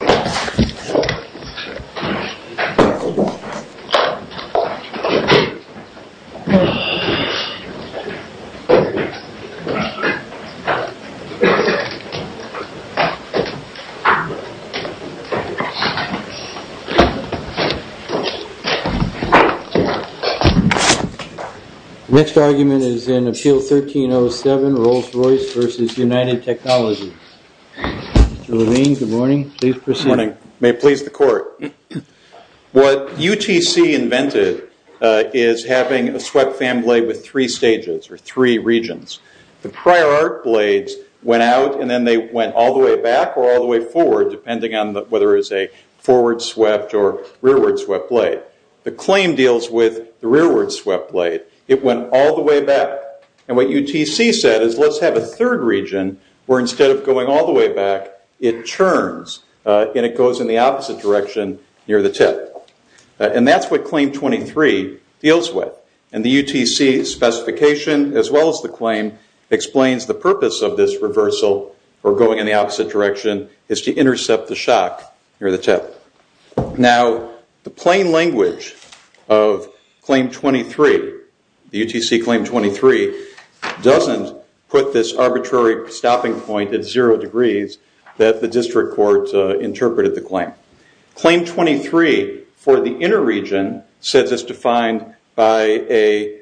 Mr. Levine, good morning, please proceed to the podium. Good morning. May it please the court. What UTC invented is having a swept fan blade with three stages or three regions. The prior arc blades went out and then they went all the way back or all the way forward, depending on whether it's a forward swept or rearward swept blade. The claim deals with the rearward swept blade. It went all the way back. And what UTC said is let's have a third region where instead of going all the way back, it turns and it goes in the opposite direction near the tip. And that's what Claim 23 deals with. And the UTC specification as well as the claim explains the purpose of this reversal or going in the opposite direction is to intercept the shock near the tip. Now, the plain language of Claim 23, the UTC Claim 23, doesn't put this arbitrary stopping point at zero degrees that the district court interpreted the claim. Claim 23 for the inner region says it's defined by a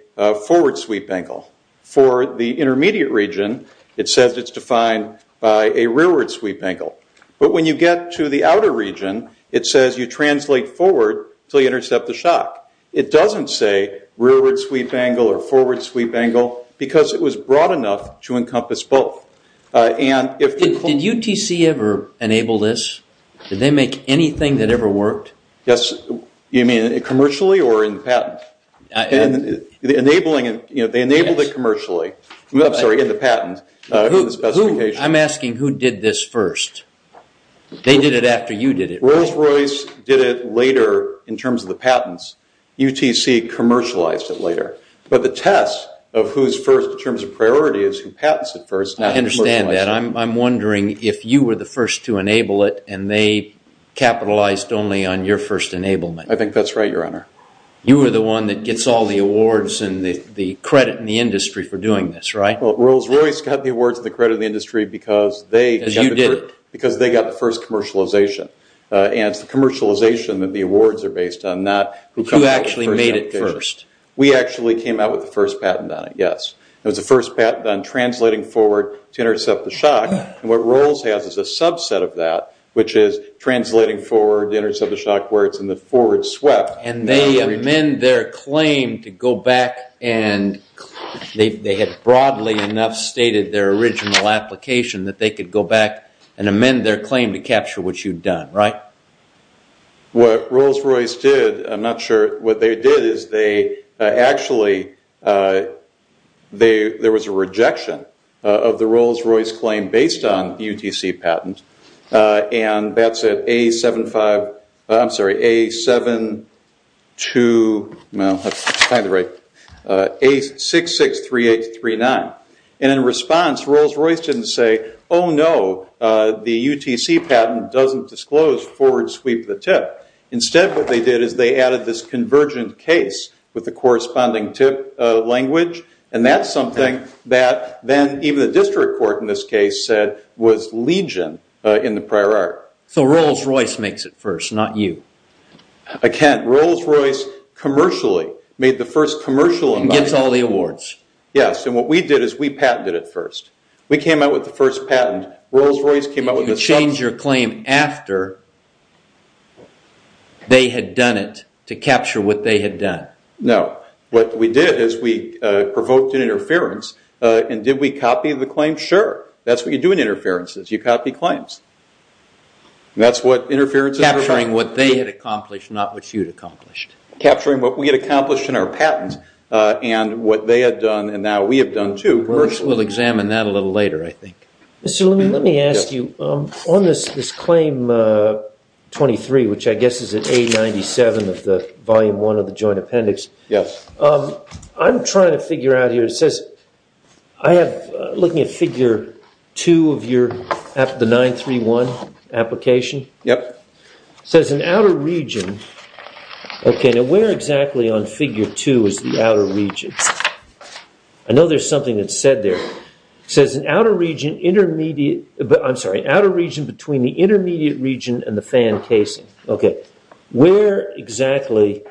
forward sweep angle. For the intermediate region, it says it's defined by a rearward sweep angle. But when you get to the outer region, it says you translate forward until you intercept the shock. It doesn't say rearward sweep angle or forward sweep angle because it was broad enough to encompass both. Did UTC ever enable this? Did they make anything that ever worked? Yes. You mean commercially or in patent? They enabled it commercially. I'm sorry, in the patent, in the specification. I'm asking who did this first. They did it after you did it. Rolls-Royce did it later in terms of the patents. UTC commercialized it later. But the test of who's first in terms of priority is who patents it first. I understand that. I'm wondering if you were the first to enable it and they capitalized only on your first enablement. I think that's right, Your Honor. You were the one that gets all the awards and the credit in the industry for doing this, right? Rolls-Royce got the awards and the credit in the industry because they got the first commercialization. And it's the commercialization that the awards are based on. Who actually made it first? We actually came out with the first patent on it, yes. It was the first patent on translating forward to intercept the shock. What Rolls has is a subset of that, which is translating forward to intercept the shock where it's in the forward swept. And they amend their claim to go back and they had broadly enough stated their original application that they could go back and amend their claim to capture what you'd done, right? What Rolls-Royce did, I'm not sure what they did, is they actually, there was a rejection of the Rolls-Royce claim based on UTC patent. And that's at A-7-5, I'm sorry, A-7-2, well, that's kind of right, A-6-6-3-8-3-9. And in response, Rolls-Royce didn't say, oh no, the UTC patent doesn't disclose forward sweep the tip. Instead what they did is they added this convergent case with the corresponding tip language. And that's something that then even the district court in this case said was legion in the prior art. So Rolls-Royce makes it first, not you. Again, Rolls-Royce commercially made the first commercial. And gets all the awards. Yes, and what we did is we patented it first. We came out with the first patent. Rolls-Royce came out with the second. And you changed your claim after they had done it to capture what they had done. No. What we did is we provoked an interference. And did we copy the claim? Sure. That's what you do in interferences. You copy claims. And that's what interferences are for. Capturing what they had accomplished, not what you had accomplished. Capturing what we had accomplished in our patent and what they had done and now we have done, too, commercially. We'll examine that a little later, I think. Mr. Levin, let me ask you, on this claim 23, which I guess is at A97 of the volume 1 of the joint appendix. Yes. I'm trying to figure out here, it says I have, looking at figure 2 of your, the 931 application. Yep. It says an outer region. Okay, now where exactly on figure 2 is the outer region? I know there's something that's said there. It says an outer region intermediate, I'm sorry, outer region between the intermediate region and the fan casing. Okay. Where exactly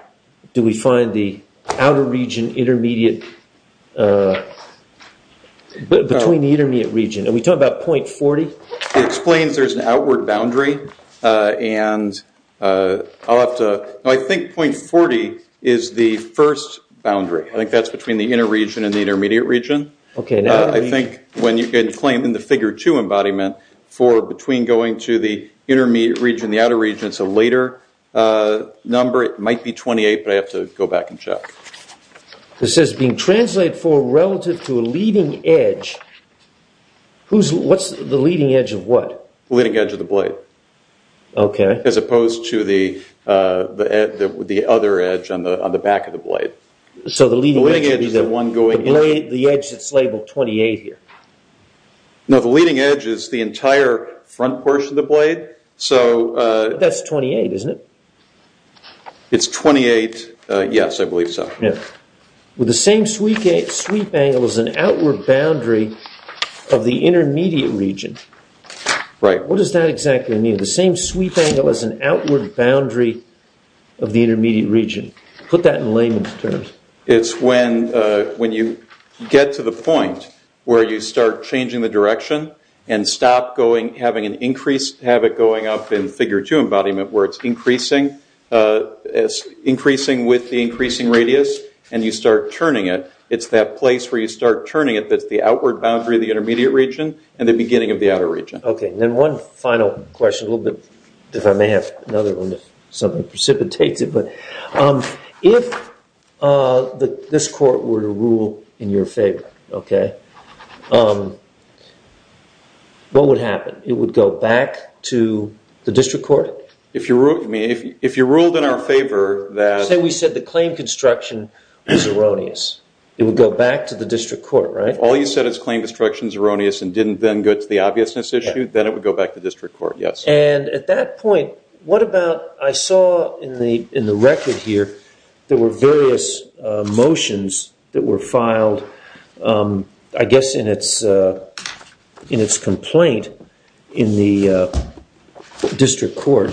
do we find the outer region intermediate, between the intermediate region? Are we talking about .40? It explains there's an outward boundary and I'll have to, I think .40 is the first boundary. I think that's between the inner region and the intermediate region. Okay. I think when you can claim in the figure 2 embodiment for between going to the intermediate region and the outer region, it's a later number, it might be 28, but I have to go back and check. It says being translated for relative to a leading edge, what's the leading edge of what? The leading edge of the blade. Okay. As opposed to the other edge on the back of the blade. The leading edge is the one going here. The edge that's labeled 28 here. No, the leading edge is the entire front portion of the blade. That's 28, isn't it? It's 28, yes, I believe so. With the same sweep angle as an outward boundary of the intermediate region. Right. What does that exactly mean, the same sweep angle as an outward boundary of the intermediate region? Put that in layman's terms. It's when you get to the point where you start changing the direction and stop having an increased habit going up in figure 2 embodiment where it's increasing with the increasing radius and you start turning it. It's that place where you start turning it that's the outward boundary of the intermediate region and the beginning of the outer region. Okay. If this court were to rule in your favor, okay, what would happen? It would go back to the district court? If you ruled in our favor that... Say we said the claim construction was erroneous. It would go back to the district court, right? If all you said is claim construction is erroneous and didn't then go to the obviousness issue, then it would go back to district court, yes. At that point, what about... I saw in the record here there were various motions that were filed, I guess, in its complaint in the district court.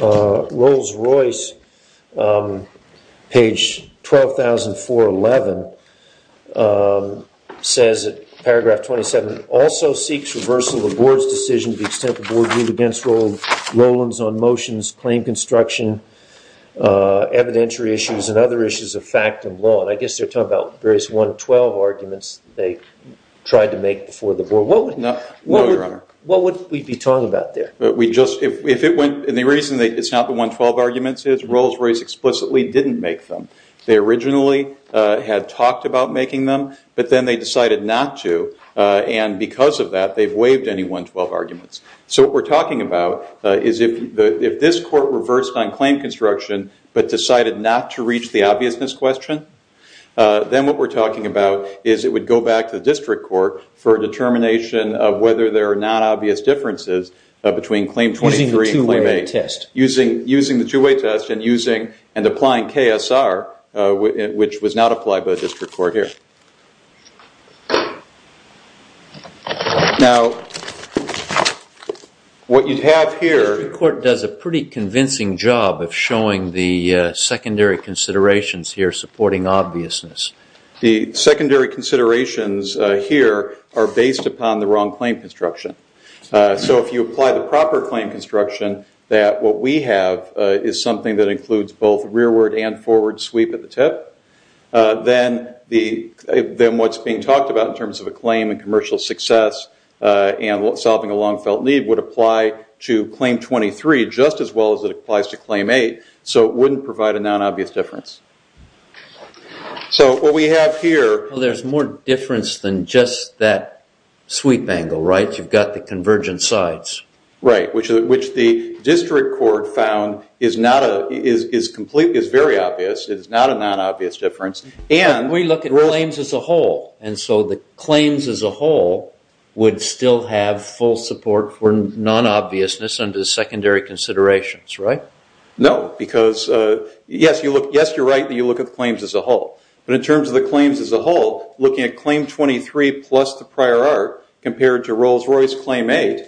Rolls-Royce, page 12,411, says, paragraph 27, also seeks reversal of the board's decision to the extent the board ruled against Rollins on motions, claim construction, evidentiary issues, and other issues of fact and law. And I guess they're talking about various 112 arguments they tried to make before the board. No, Your Honor. What would we be talking about there? And the reason it's not the 112 arguments is Rolls-Royce explicitly didn't make them. They originally had talked about making them, but then they decided not to. And because of that, they've waived any 112 arguments. So what we're talking about is if this court reversed on claim construction but decided not to reach the obviousness question, then what we're talking about is it would go back to the district court for a determination of whether there are non-obvious differences between claim 23 and claim 8. Using the two-way test. Using the two-way test and applying KSR, which was not applied by the district court here. Now, what you have here The district court does a pretty convincing job of showing the secondary considerations here supporting obviousness. The secondary considerations here are based upon the wrong claim construction. So if you apply the proper claim construction, that what we have is something that includes both rearward and forward sweep at the tip, then what's being talked about in terms of a claim and commercial success and solving a long-felt need would apply to claim 23 just as well as it applies to claim 8. So it wouldn't provide a non-obvious difference. So what we have here Well, there's more difference than just that sweep angle, right? You've got the convergent sides. Right, which the district court found is very obvious. It's not a non-obvious difference. We look at claims as a whole. And so the claims as a whole would still have full support for non-obviousness under the secondary considerations, right? No, because yes, you're right that you look at the claims as a whole. But in terms of the claims as a whole, looking at claim 23 plus the prior art compared to Rolls-Royce claim 8,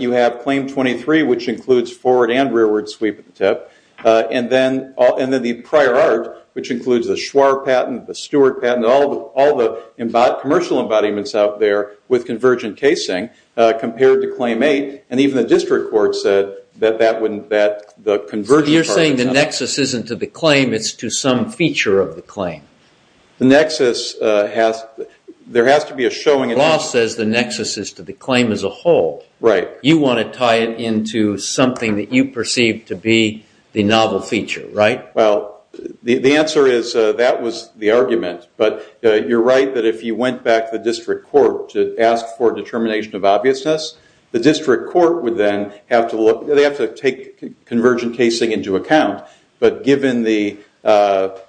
you have claim 23, which includes forward and rearward sweep at the tip, and then the prior art, which includes the Schwarr patent, the Stewart patent, all the commercial embodiments out there with convergent casing compared to claim 8. And even the district court said that the convergent part of it's not. You're saying the nexus isn't to the claim. It's to some feature of the claim. The nexus has to be a showing. The law says the nexus is to the claim as a whole. Right. You want to tie it into something that you perceive to be the novel feature, right? Well, the answer is that was the argument. But you're right that if you went back to the district court to ask for determination of obviousness, the district court would then have to take convergent casing into account. But given what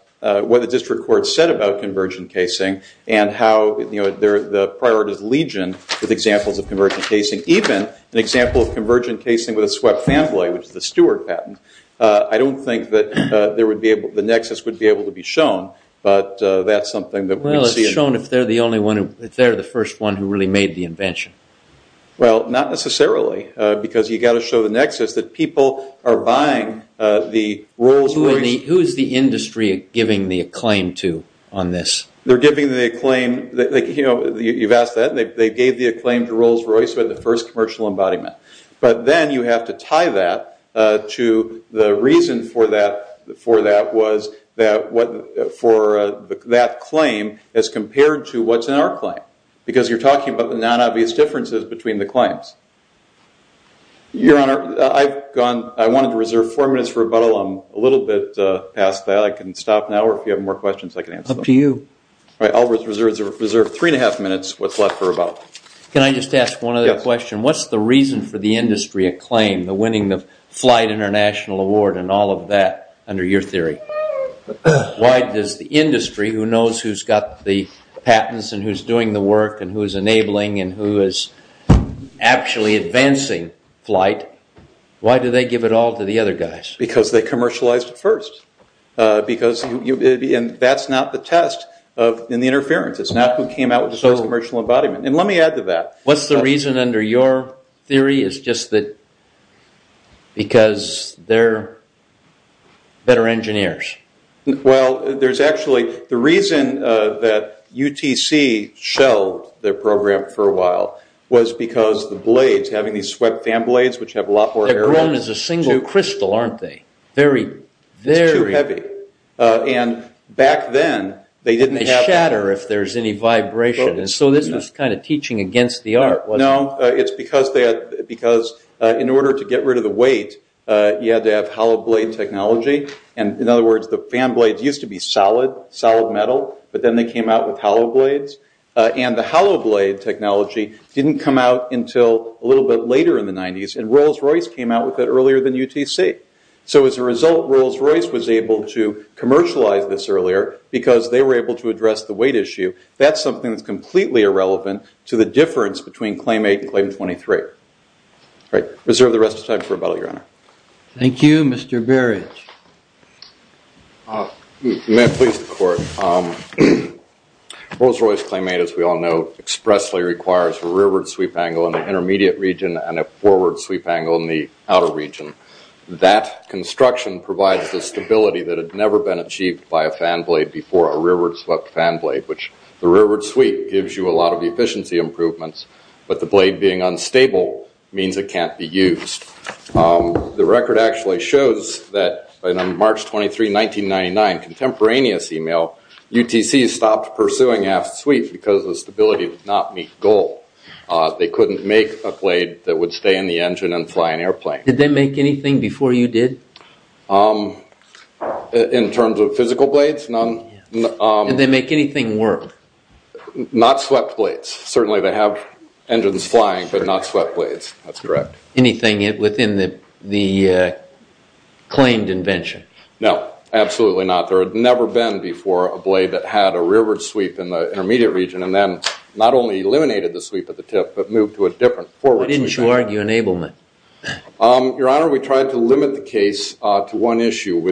the district court said about convergent casing and how the prior art is legion with examples of convergent casing, even an example of convergent casing with a swept fan blade, which is the Stewart patent, I don't think that the nexus would be able to be shown. But that's something that we'd see. Well, it's shown if they're the first one who really made the invention. Well, not necessarily because you've got to show the nexus that people are buying the Rolls Royce. Who is the industry giving the acclaim to on this? They're giving the acclaim. You've asked that. They gave the acclaim to Rolls Royce, who had the first commercial embodiment. But then you have to tie that to the reason for that claim as compared to what's in our claim because you're talking about the non-obvious differences between the claims. Your Honor, I wanted to reserve four minutes for rebuttal. I'm a little bit past that. I can stop now, or if you have more questions, I can answer them. Up to you. All right. I'll reserve three and a half minutes, what's left for rebuttal. Can I just ask one other question? What's the reason for the industry acclaim, the winning the Flight International Award and all of that, under your theory? Why does the industry, who knows who's got the patents and who's doing the work and who's enabling and who is actually advancing flight, why do they give it all to the other guys? Because they commercialized it first. And that's not the test in the interference. It's not who came out with the first commercial embodiment. And let me add to that. What's the reason under your theory is just that because they're better engineers? Well, there's actually the reason that UTC shelved their program for a while was because the blades, having these swept fan blades, which have a lot more air in them. They're grown as a single crystal, aren't they? Very, very. It's too heavy. And back then, they didn't have. They shatter if there's any vibration. And so this was kind of teaching against the art, wasn't it? No. It's because in order to get rid of the weight, you had to have hollow blade technology. And in other words, the fan blades used to be solid, solid metal. But then they came out with hollow blades. And the hollow blade technology didn't come out until a little bit later in the 90s. And Rolls-Royce came out with it earlier than UTC. So as a result, Rolls-Royce was able to commercialize this earlier because they were able to address the weight issue. That's something that's completely irrelevant to the difference between Claim 8 and Claim 23. All right. Reserve the rest of the time for rebuttal, Your Honor. Thank you. Mr. Berridge. May I please the Court? Rolls-Royce Claim 8, as we all know, expressly requires a rearward sweep angle in the intermediate region and a forward sweep angle in the outer region. That construction provides the stability that had never been achieved by a fan blade before a rearward swept fan blade, which the rearward sweep gives you a lot of efficiency improvements, but the blade being unstable means it can't be used. The record actually shows that on March 23, 1999, contemporaneous email, UTC stopped pursuing aft sweep because the stability did not meet goal. They couldn't make a blade that would stay in the engine and fly an airplane. Did they make anything before you did? In terms of physical blades, none. Did they make anything work? Not swept blades. Certainly they have engines flying, but not swept blades. That's correct. Anything within the claimed invention? No, absolutely not. There had never been before a blade that had a rearward sweep in the intermediate region and then not only eliminated the sweep at the tip, but moved to a different forward sweep. Why didn't you argue enablement? Your Honor, we tried to limit the case to one issue.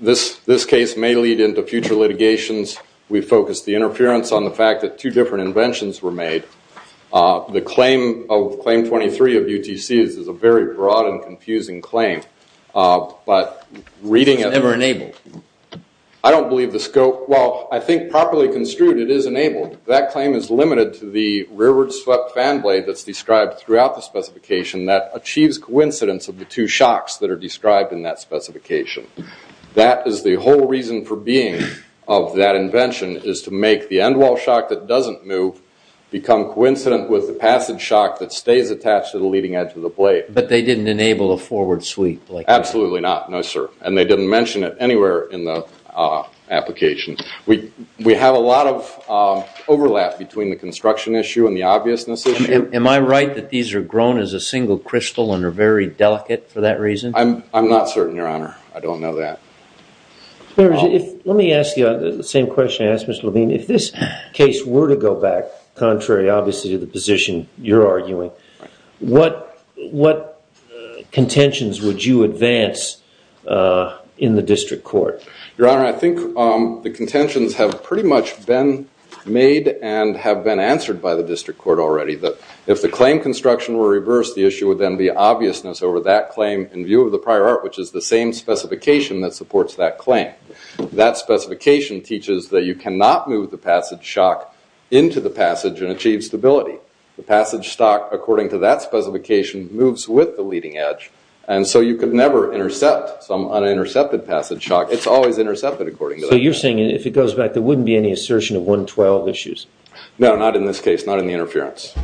This case may lead into future litigations. We focused the interference on the fact that two different inventions were made. The claim of Claim 23 of UTC is a very broad and confusing claim, but reading it- It's never enabled. I don't believe the scope. Well, I think properly construed, it is enabled. That claim is limited to the rearward swept fan blade that's described throughout the specification that achieves coincidence of the two shocks that are described in that specification. That is the whole reason for being of that invention is to make the end wall shock that doesn't move become coincident with the passage shock that stays attached to the leading edge of the blade. But they didn't enable a forward sweep? Absolutely not. No, sir. And they didn't mention it anywhere in the application. We have a lot of overlap between the construction issue and the obviousness issue. Am I right that these are grown as a single crystal and are very delicate for that reason? I'm not certain, Your Honor. I don't know that. Let me ask you the same question I asked Mr. Levine. If this case were to go back, contrary obviously to the position you're arguing, what contentions would you advance in the district court? Your Honor, I think the contentions have pretty much been made and have been answered by the district court already. If the claim construction were reversed, the issue would then be obviousness over that claim in view of the prior art, which is the same specification that supports that claim. That specification teaches that you cannot move the passage shock into the passage and achieve stability. The passage stock, according to that specification, moves with the leading edge, and so you could never intercept some unintercepted passage shock. It's always intercepted according to that. So you're saying if it goes back, there wouldn't be any assertion of 112 issues? No, not in this case, not in the interference.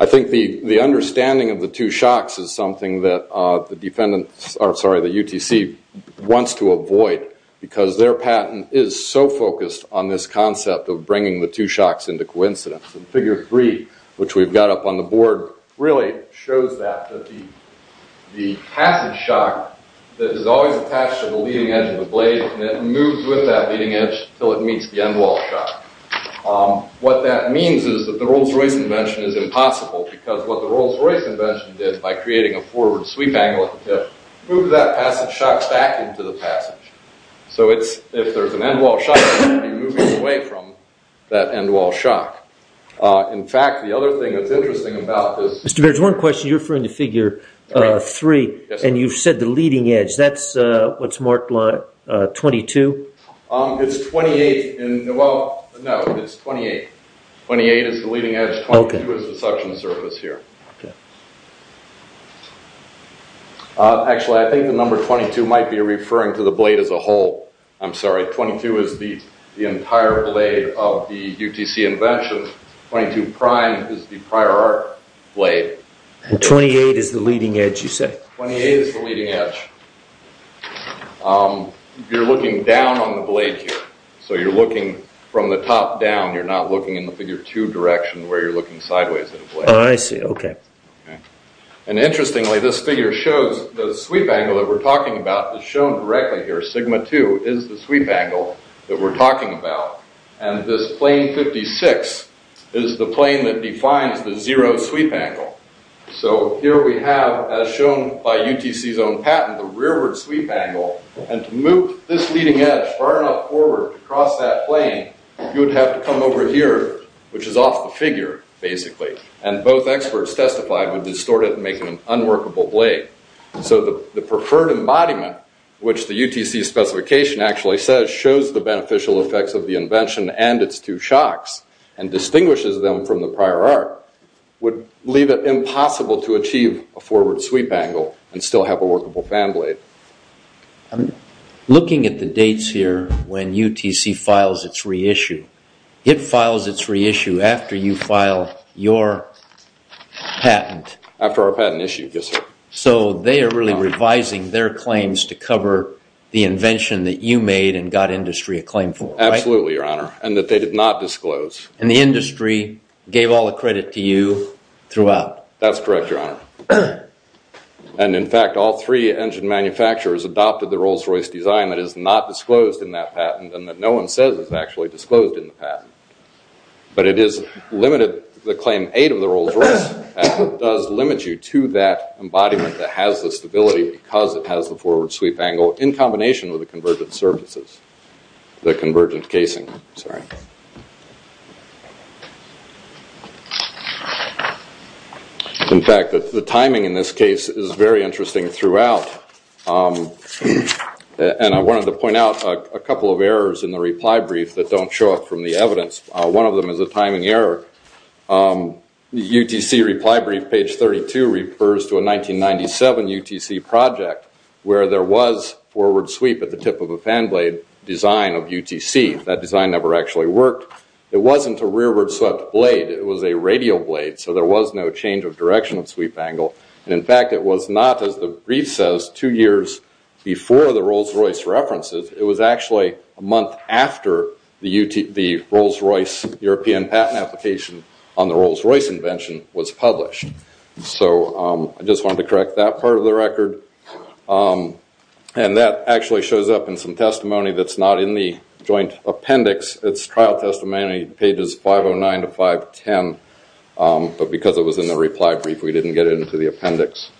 I think the understanding of the two shocks is something that the UTC wants to avoid because their patent is so focused on this concept of bringing the two shocks into coincidence. Figure three, which we've got up on the board, really shows that the passage shock that is always attached to the leading edge of the blade moves with that leading edge until it meets the end wall shock. What that means is that the Rolls-Royce invention is impossible because what the Rolls-Royce invention did by creating a forward sweep angle at the tip moved that passage shock back into the passage. So if there's an end wall shock, it would be moving away from that end wall shock. In fact, the other thing that's interesting about this... Mr. Baird, there's one question. You're referring to figure three, and you've said the leading edge. That's what's marked 22? It's 28. Well, no, it's 28. 28 is the leading edge. 22 is the suction surface here. Okay. Actually, I think the number 22 might be referring to the blade as a whole. I'm sorry. 22 is the entire blade of the UTC invention. 22 prime is the prior art blade. And 28 is the leading edge, you say? 28 is the leading edge. You're looking down on the blade here. So you're looking from the top down. You're not looking in the figure two direction where you're looking sideways at the blade. I see. Okay. And interestingly, this figure shows the sweep angle that we're talking about. It's shown directly here. Sigma two is the sweep angle that we're talking about. And this plane 56 is the plane that defines the zero sweep angle. So here we have, as shown by UTC's own patent, the rearward sweep angle. And to move this leading edge far enough forward to cross that plane, you would have to come over here, which is off the figure, basically. And both experts testified would distort it and make it an unworkable blade. So the preferred embodiment, which the UTC specification actually says, shows the beneficial effects of the invention and its two shocks and distinguishes them from the prior art, would leave it impossible to achieve a forward sweep angle and still have a workable fan blade. I'm looking at the dates here when UTC files its reissue. It files its reissue after you file your patent. After our patent issue, yes, sir. So they are really revising their claims to cover the invention that you made and got industry a claim for, right? Absolutely, Your Honor, and that they did not disclose. And the industry gave all the credit to you throughout. That's correct, Your Honor. And, in fact, all three engine manufacturers adopted the Rolls-Royce design that is not disclosed in that patent and that no one says is actually disclosed in the patent. But it is limited, the claim eight of the Rolls-Royce patent, does limit you to that embodiment that has the stability because it has the forward sweep angle in combination with the convergent surfaces. The convergent casing, sorry. In fact, the timing in this case is very interesting throughout. And I wanted to point out a couple of errors in the reply brief that don't show up from the evidence. One of them is a timing error. The UTC reply brief, page 32, refers to a 1997 UTC project where there was forward sweep at the tip of a fan blade design of UTC. That design never actually worked. It wasn't a rearward swept blade. It was a radial blade. So there was no change of direction of sweep angle. And, in fact, it was not, as the brief says, two years before the Rolls-Royce references. It was actually a month after the Rolls-Royce European patent application on the Rolls-Royce invention was published. So I just wanted to correct that part of the record. And that actually shows up in some testimony that's not in the joint appendix. It's trial testimony, pages 509 to 510. But because it was in the reply brief, we didn't get it into the appendix.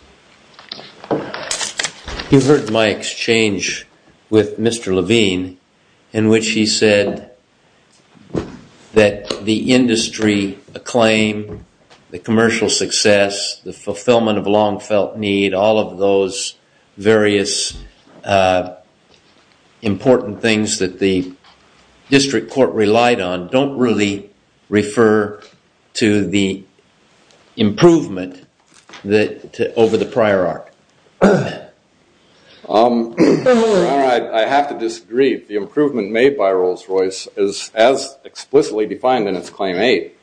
You heard my exchange with Mr. Levine in which he said that the industry acclaim, the commercial success, the fulfillment of a long felt need, all of those various important things that the district court relied on don't really refer to the improvement over the prior arc. Your Honor, I have to disagree. The improvement made by Rolls-Royce, as explicitly defined in its Claim 8,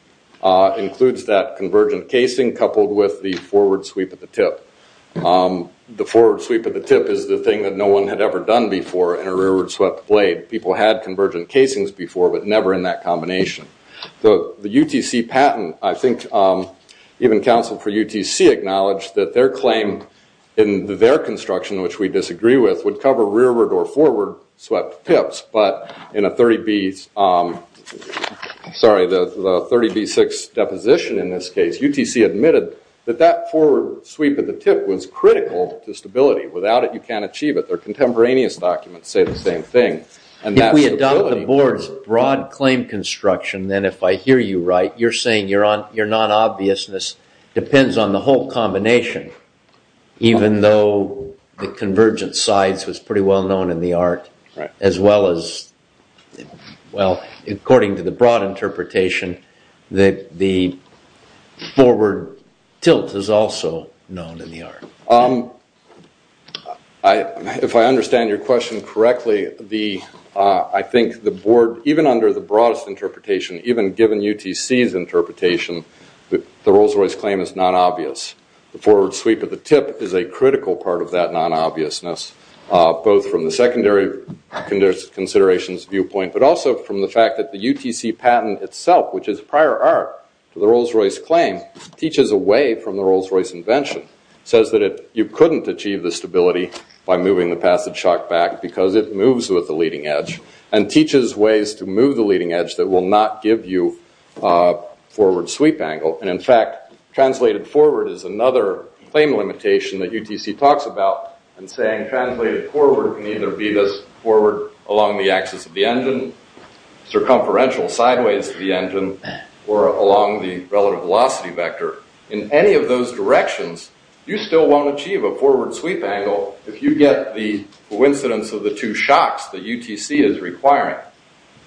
includes that convergent casing coupled with the forward sweep at the tip. The forward sweep at the tip is the thing that no one had ever done before in a rearward swept blade. People had convergent casings before but never in that combination. The UTC patent, I think even counsel for UTC acknowledged that their claim in their construction, which we disagree with, would cover rearward or forward swept tips. But in the 30B6 deposition in this case, UTC admitted that that forward sweep at the tip was critical to stability. Without it, you can't achieve it. Their contemporaneous documents say the same thing. If we adopt the board's broad claim construction, then if I hear you right, you're saying your non-obviousness depends on the whole combination, even though the convergent sides was pretty well known in the art as well as, well, according to the broad interpretation, the forward tilt is also known in the art. If I understand your question correctly, I think the board, even under the broadest interpretation, even given UTC's interpretation, the Rolls-Royce claim is non-obvious. The forward sweep at the tip is a critical part of that non-obviousness, both from the secondary considerations viewpoint, but also from the fact that the UTC patent itself, which is prior art to the Rolls-Royce claim, teaches a way from the Rolls-Royce invention. It says that you couldn't achieve the stability by moving the passage shock back because it moves with the leading edge and teaches ways to move the leading edge that will not give you a forward sweep angle. In fact, translated forward is another claim limitation that UTC talks about and saying translated forward can either be this forward along the axis of the engine, circumferential sideways of the engine, or along the relative velocity vector. In any of those directions, you still won't achieve a forward sweep angle if you get the coincidence of the two shocks that UTC is requiring.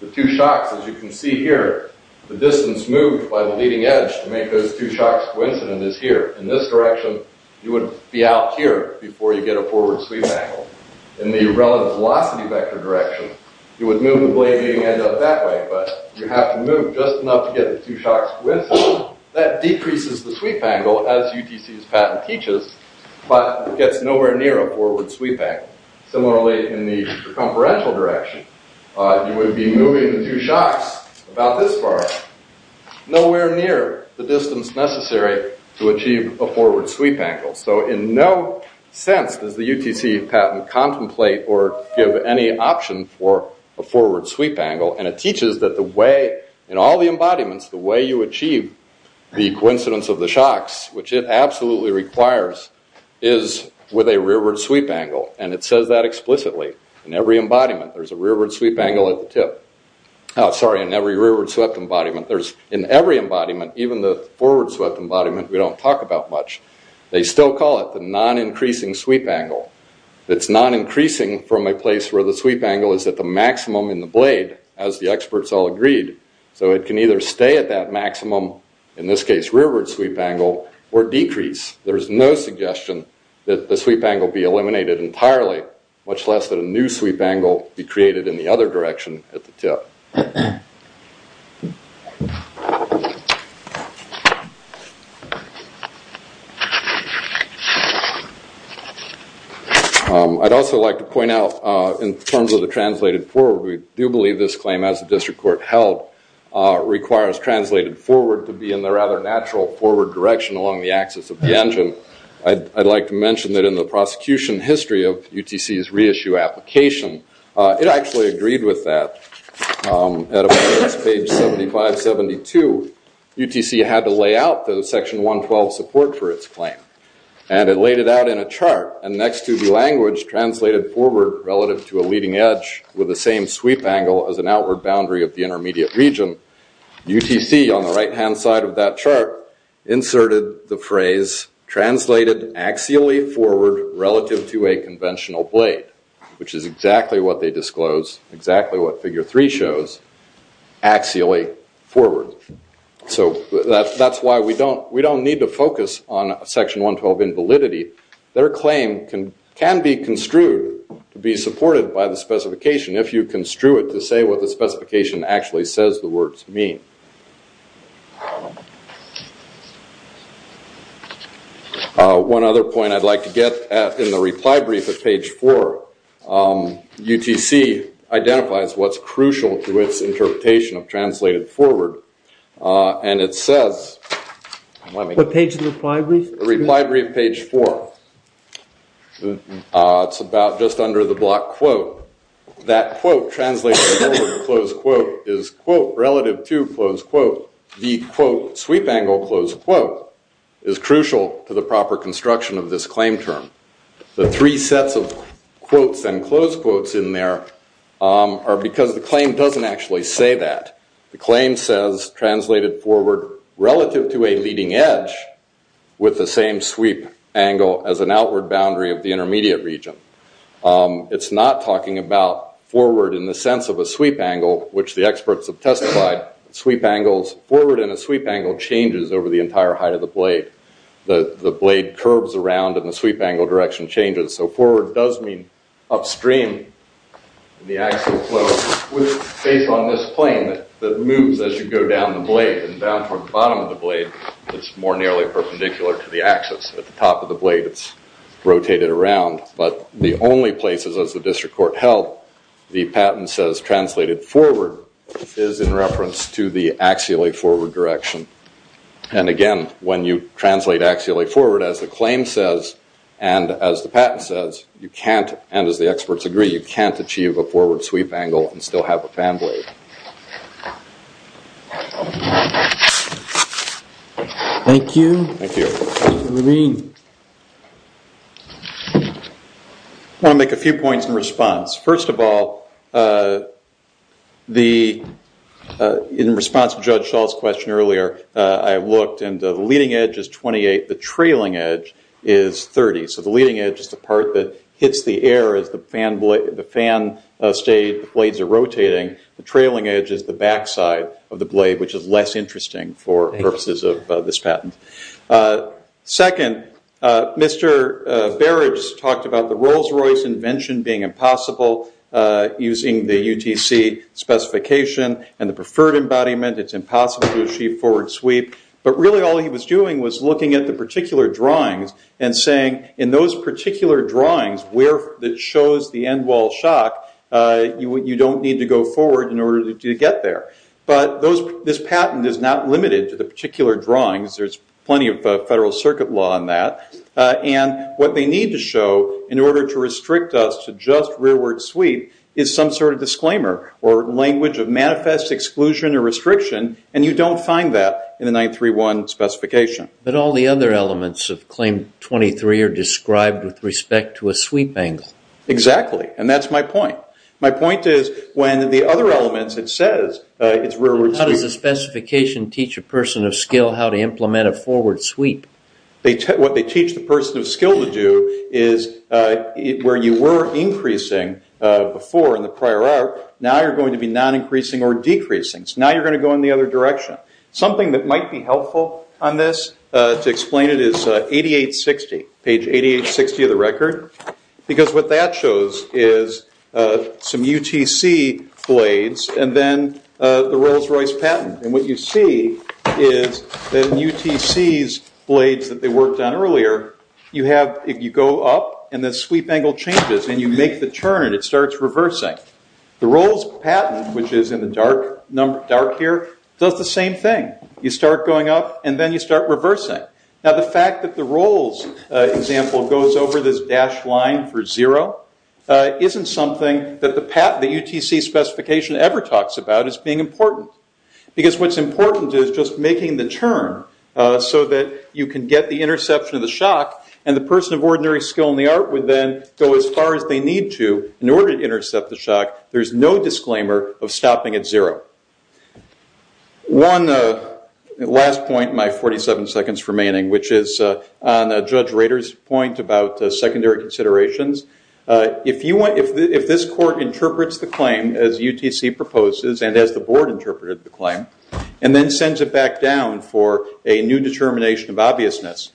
The two shocks, as you can see here, the distance moved by the leading edge to make those two shocks coincident is here. In this direction, you would be out here before you get a forward sweep angle. In the relative velocity vector direction, you would move the leading edge up that way, but you have to move just enough to get the two shocks coincident. That decreases the sweep angle, as UTC's patent teaches, but gets nowhere near a forward sweep angle. Similarly, in the circumferential direction, you would be moving the two shocks about this far, nowhere near the distance necessary to achieve a forward sweep angle. In no sense does the UTC patent contemplate or give any option for a forward sweep angle. It teaches that in all the embodiments, the way you achieve the coincidence of the shocks, which it absolutely requires, is with a rearward sweep angle. It says that explicitly in every embodiment. There's a rearward sweep angle at the tip. Sorry, in every rearward sweep embodiment. In every embodiment, even the forward sweep embodiment, we don't talk about much. They still call it the non-increasing sweep angle. It's non-increasing from a place where the sweep angle is at the maximum in the blade, as the experts all agreed. It can either stay at that maximum, in this case rearward sweep angle, or decrease. There's no suggestion that the sweep angle be eliminated entirely, much less that a new sweep angle be created in the other direction at the tip. I'd also like to point out, in terms of the translated forward, we do believe this claim, as the district court held, requires translated forward to be in the rather natural forward direction along the axis of the engine. I'd like to mention that in the prosecution history of UTC's reissue application, it actually agreed with that. At a point, it's page 7572, UTC had to lay out the section 112 support for its claim. And it laid it out in a chart. And next to the language translated forward relative to a leading edge, with the same sweep angle as an outward boundary of the intermediate region, UTC, on the right-hand side of that chart, inserted the phrase translated axially forward relative to a conventional blade, which is exactly what they disclosed, exactly what figure three shows, axially forward. So that's why we don't need to focus on section 112 in validity. Their claim can be construed to be supported by the specification, if you construe it to say what the specification actually says the words mean. One other point I'd like to get, in the reply brief at page four, UTC identifies what's crucial to its interpretation of translated forward. And it says- What page of the reply brief? The reply brief, page four. It's about just under the block quote. That quote translated forward, close quote, is quote relative to, close quote, the quote sweep angle, close quote, is crucial to the proper construction of this claim term. The three sets of quotes and close quotes in there are because the claim doesn't actually say that. The claim says translated forward relative to a leading edge with the same sweep angle as an outward boundary of the intermediate region. It's not talking about forward in the sense of a sweep angle, which the experts have testified. Sweep angles, forward in a sweep angle changes over the entire height of the blade. The blade curves around and the sweep angle direction changes. So forward does mean upstream in the axial flow, which is based on this plane that moves as you go down the blade. And down from the bottom of the blade, it's more nearly perpendicular to the axis. At the top of the blade, it's rotated around. But the only places, as the district court held, the patent says translated forward is in reference to the axially forward direction. And again, when you translate axially forward, as the claim says, and as the patent says, you can't, and as the experts agree, you can't achieve a forward sweep angle and still have a fan blade. Thank you. Thank you. Dr. Levine. I want to make a few points in response. First of all, in response to Judge Schall's question earlier, I looked and the leading edge is 28. The trailing edge is 30. So the leading edge is the part that hits the air as the fan blades are rotating. The trailing edge is the backside of the blade, which is less interesting for purposes of this patent. Second, Mr. Barrage talked about the Rolls-Royce invention being impossible. Using the UTC specification and the preferred embodiment, it's impossible to achieve forward sweep. But really all he was doing was looking at the particular drawings and saying, in those particular drawings that shows the end wall shock, you don't need to go forward in order to get there. But this patent is not limited to the particular drawings. There's plenty of Federal Circuit law on that. And what they need to show in order to restrict us to just rearward sweep is some sort of disclaimer or language of manifest exclusion or restriction, and you don't find that in the 931 specification. But all the other elements of Claim 23 are described with respect to a sweep angle. Exactly, and that's my point. My point is when the other elements, it says it's rearward sweep. How does the specification teach a person of skill how to implement a forward sweep? What they teach the person of skill to do is where you were increasing before in the prior art, now you're going to be non-increasing or decreasing. So now you're going to go in the other direction. Something that might be helpful on this to explain it is page 8860 of the record, because what that shows is some UTC blades and then the Rolls-Royce patent. And what you see is that in UTC's blades that they worked on earlier, if you go up and the sweep angle changes and you make the turn, it starts reversing. The Rolls patent, which is in the dark here, does the same thing. You start going up and then you start reversing. Now the fact that the Rolls example goes over this dashed line for zero isn't something that the UTC specification ever talks about as being important. Because what's important is just making the turn so that you can get the interception of the shock and the person of ordinary skill in the art would then go as far as they need to in order to intercept the shock. There's no disclaimer of stopping at zero. One last point in my 47 seconds remaining, which is on Judge Rader's point about secondary considerations. If this court interprets the claim as UTC proposes and as the board interpreted the claim and then sends it back down for a new determination of obviousness,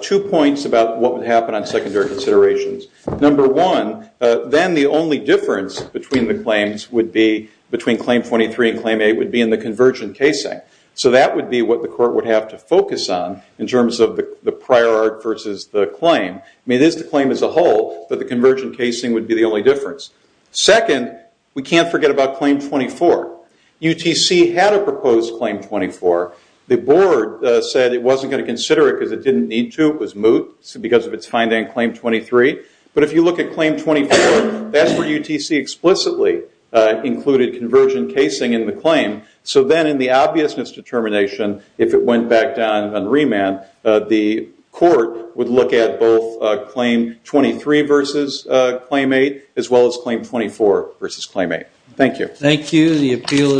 two points about what would happen on secondary considerations. Number one, then the only difference between the claims would be between Claim 23 and Claim 8 would be in the convergent casing. So that would be what the court would have to focus on in terms of the prior art versus the claim. It is the claim as a whole, but the convergent casing would be the only difference. Second, we can't forget about Claim 24. UTC had a proposed Claim 24. The board said it wasn't going to consider it because it didn't need to. It was moot because of its finding in Claim 23. But if you look at Claim 24, that's where UTC explicitly included convergent casing in the claim. So then in the obviousness determination, if it went back down on remand, the court would look at both Claim 23 versus Claim 8 as well as Claim 24 versus Claim 8. Thank you. Thank you. The appeal is submitted.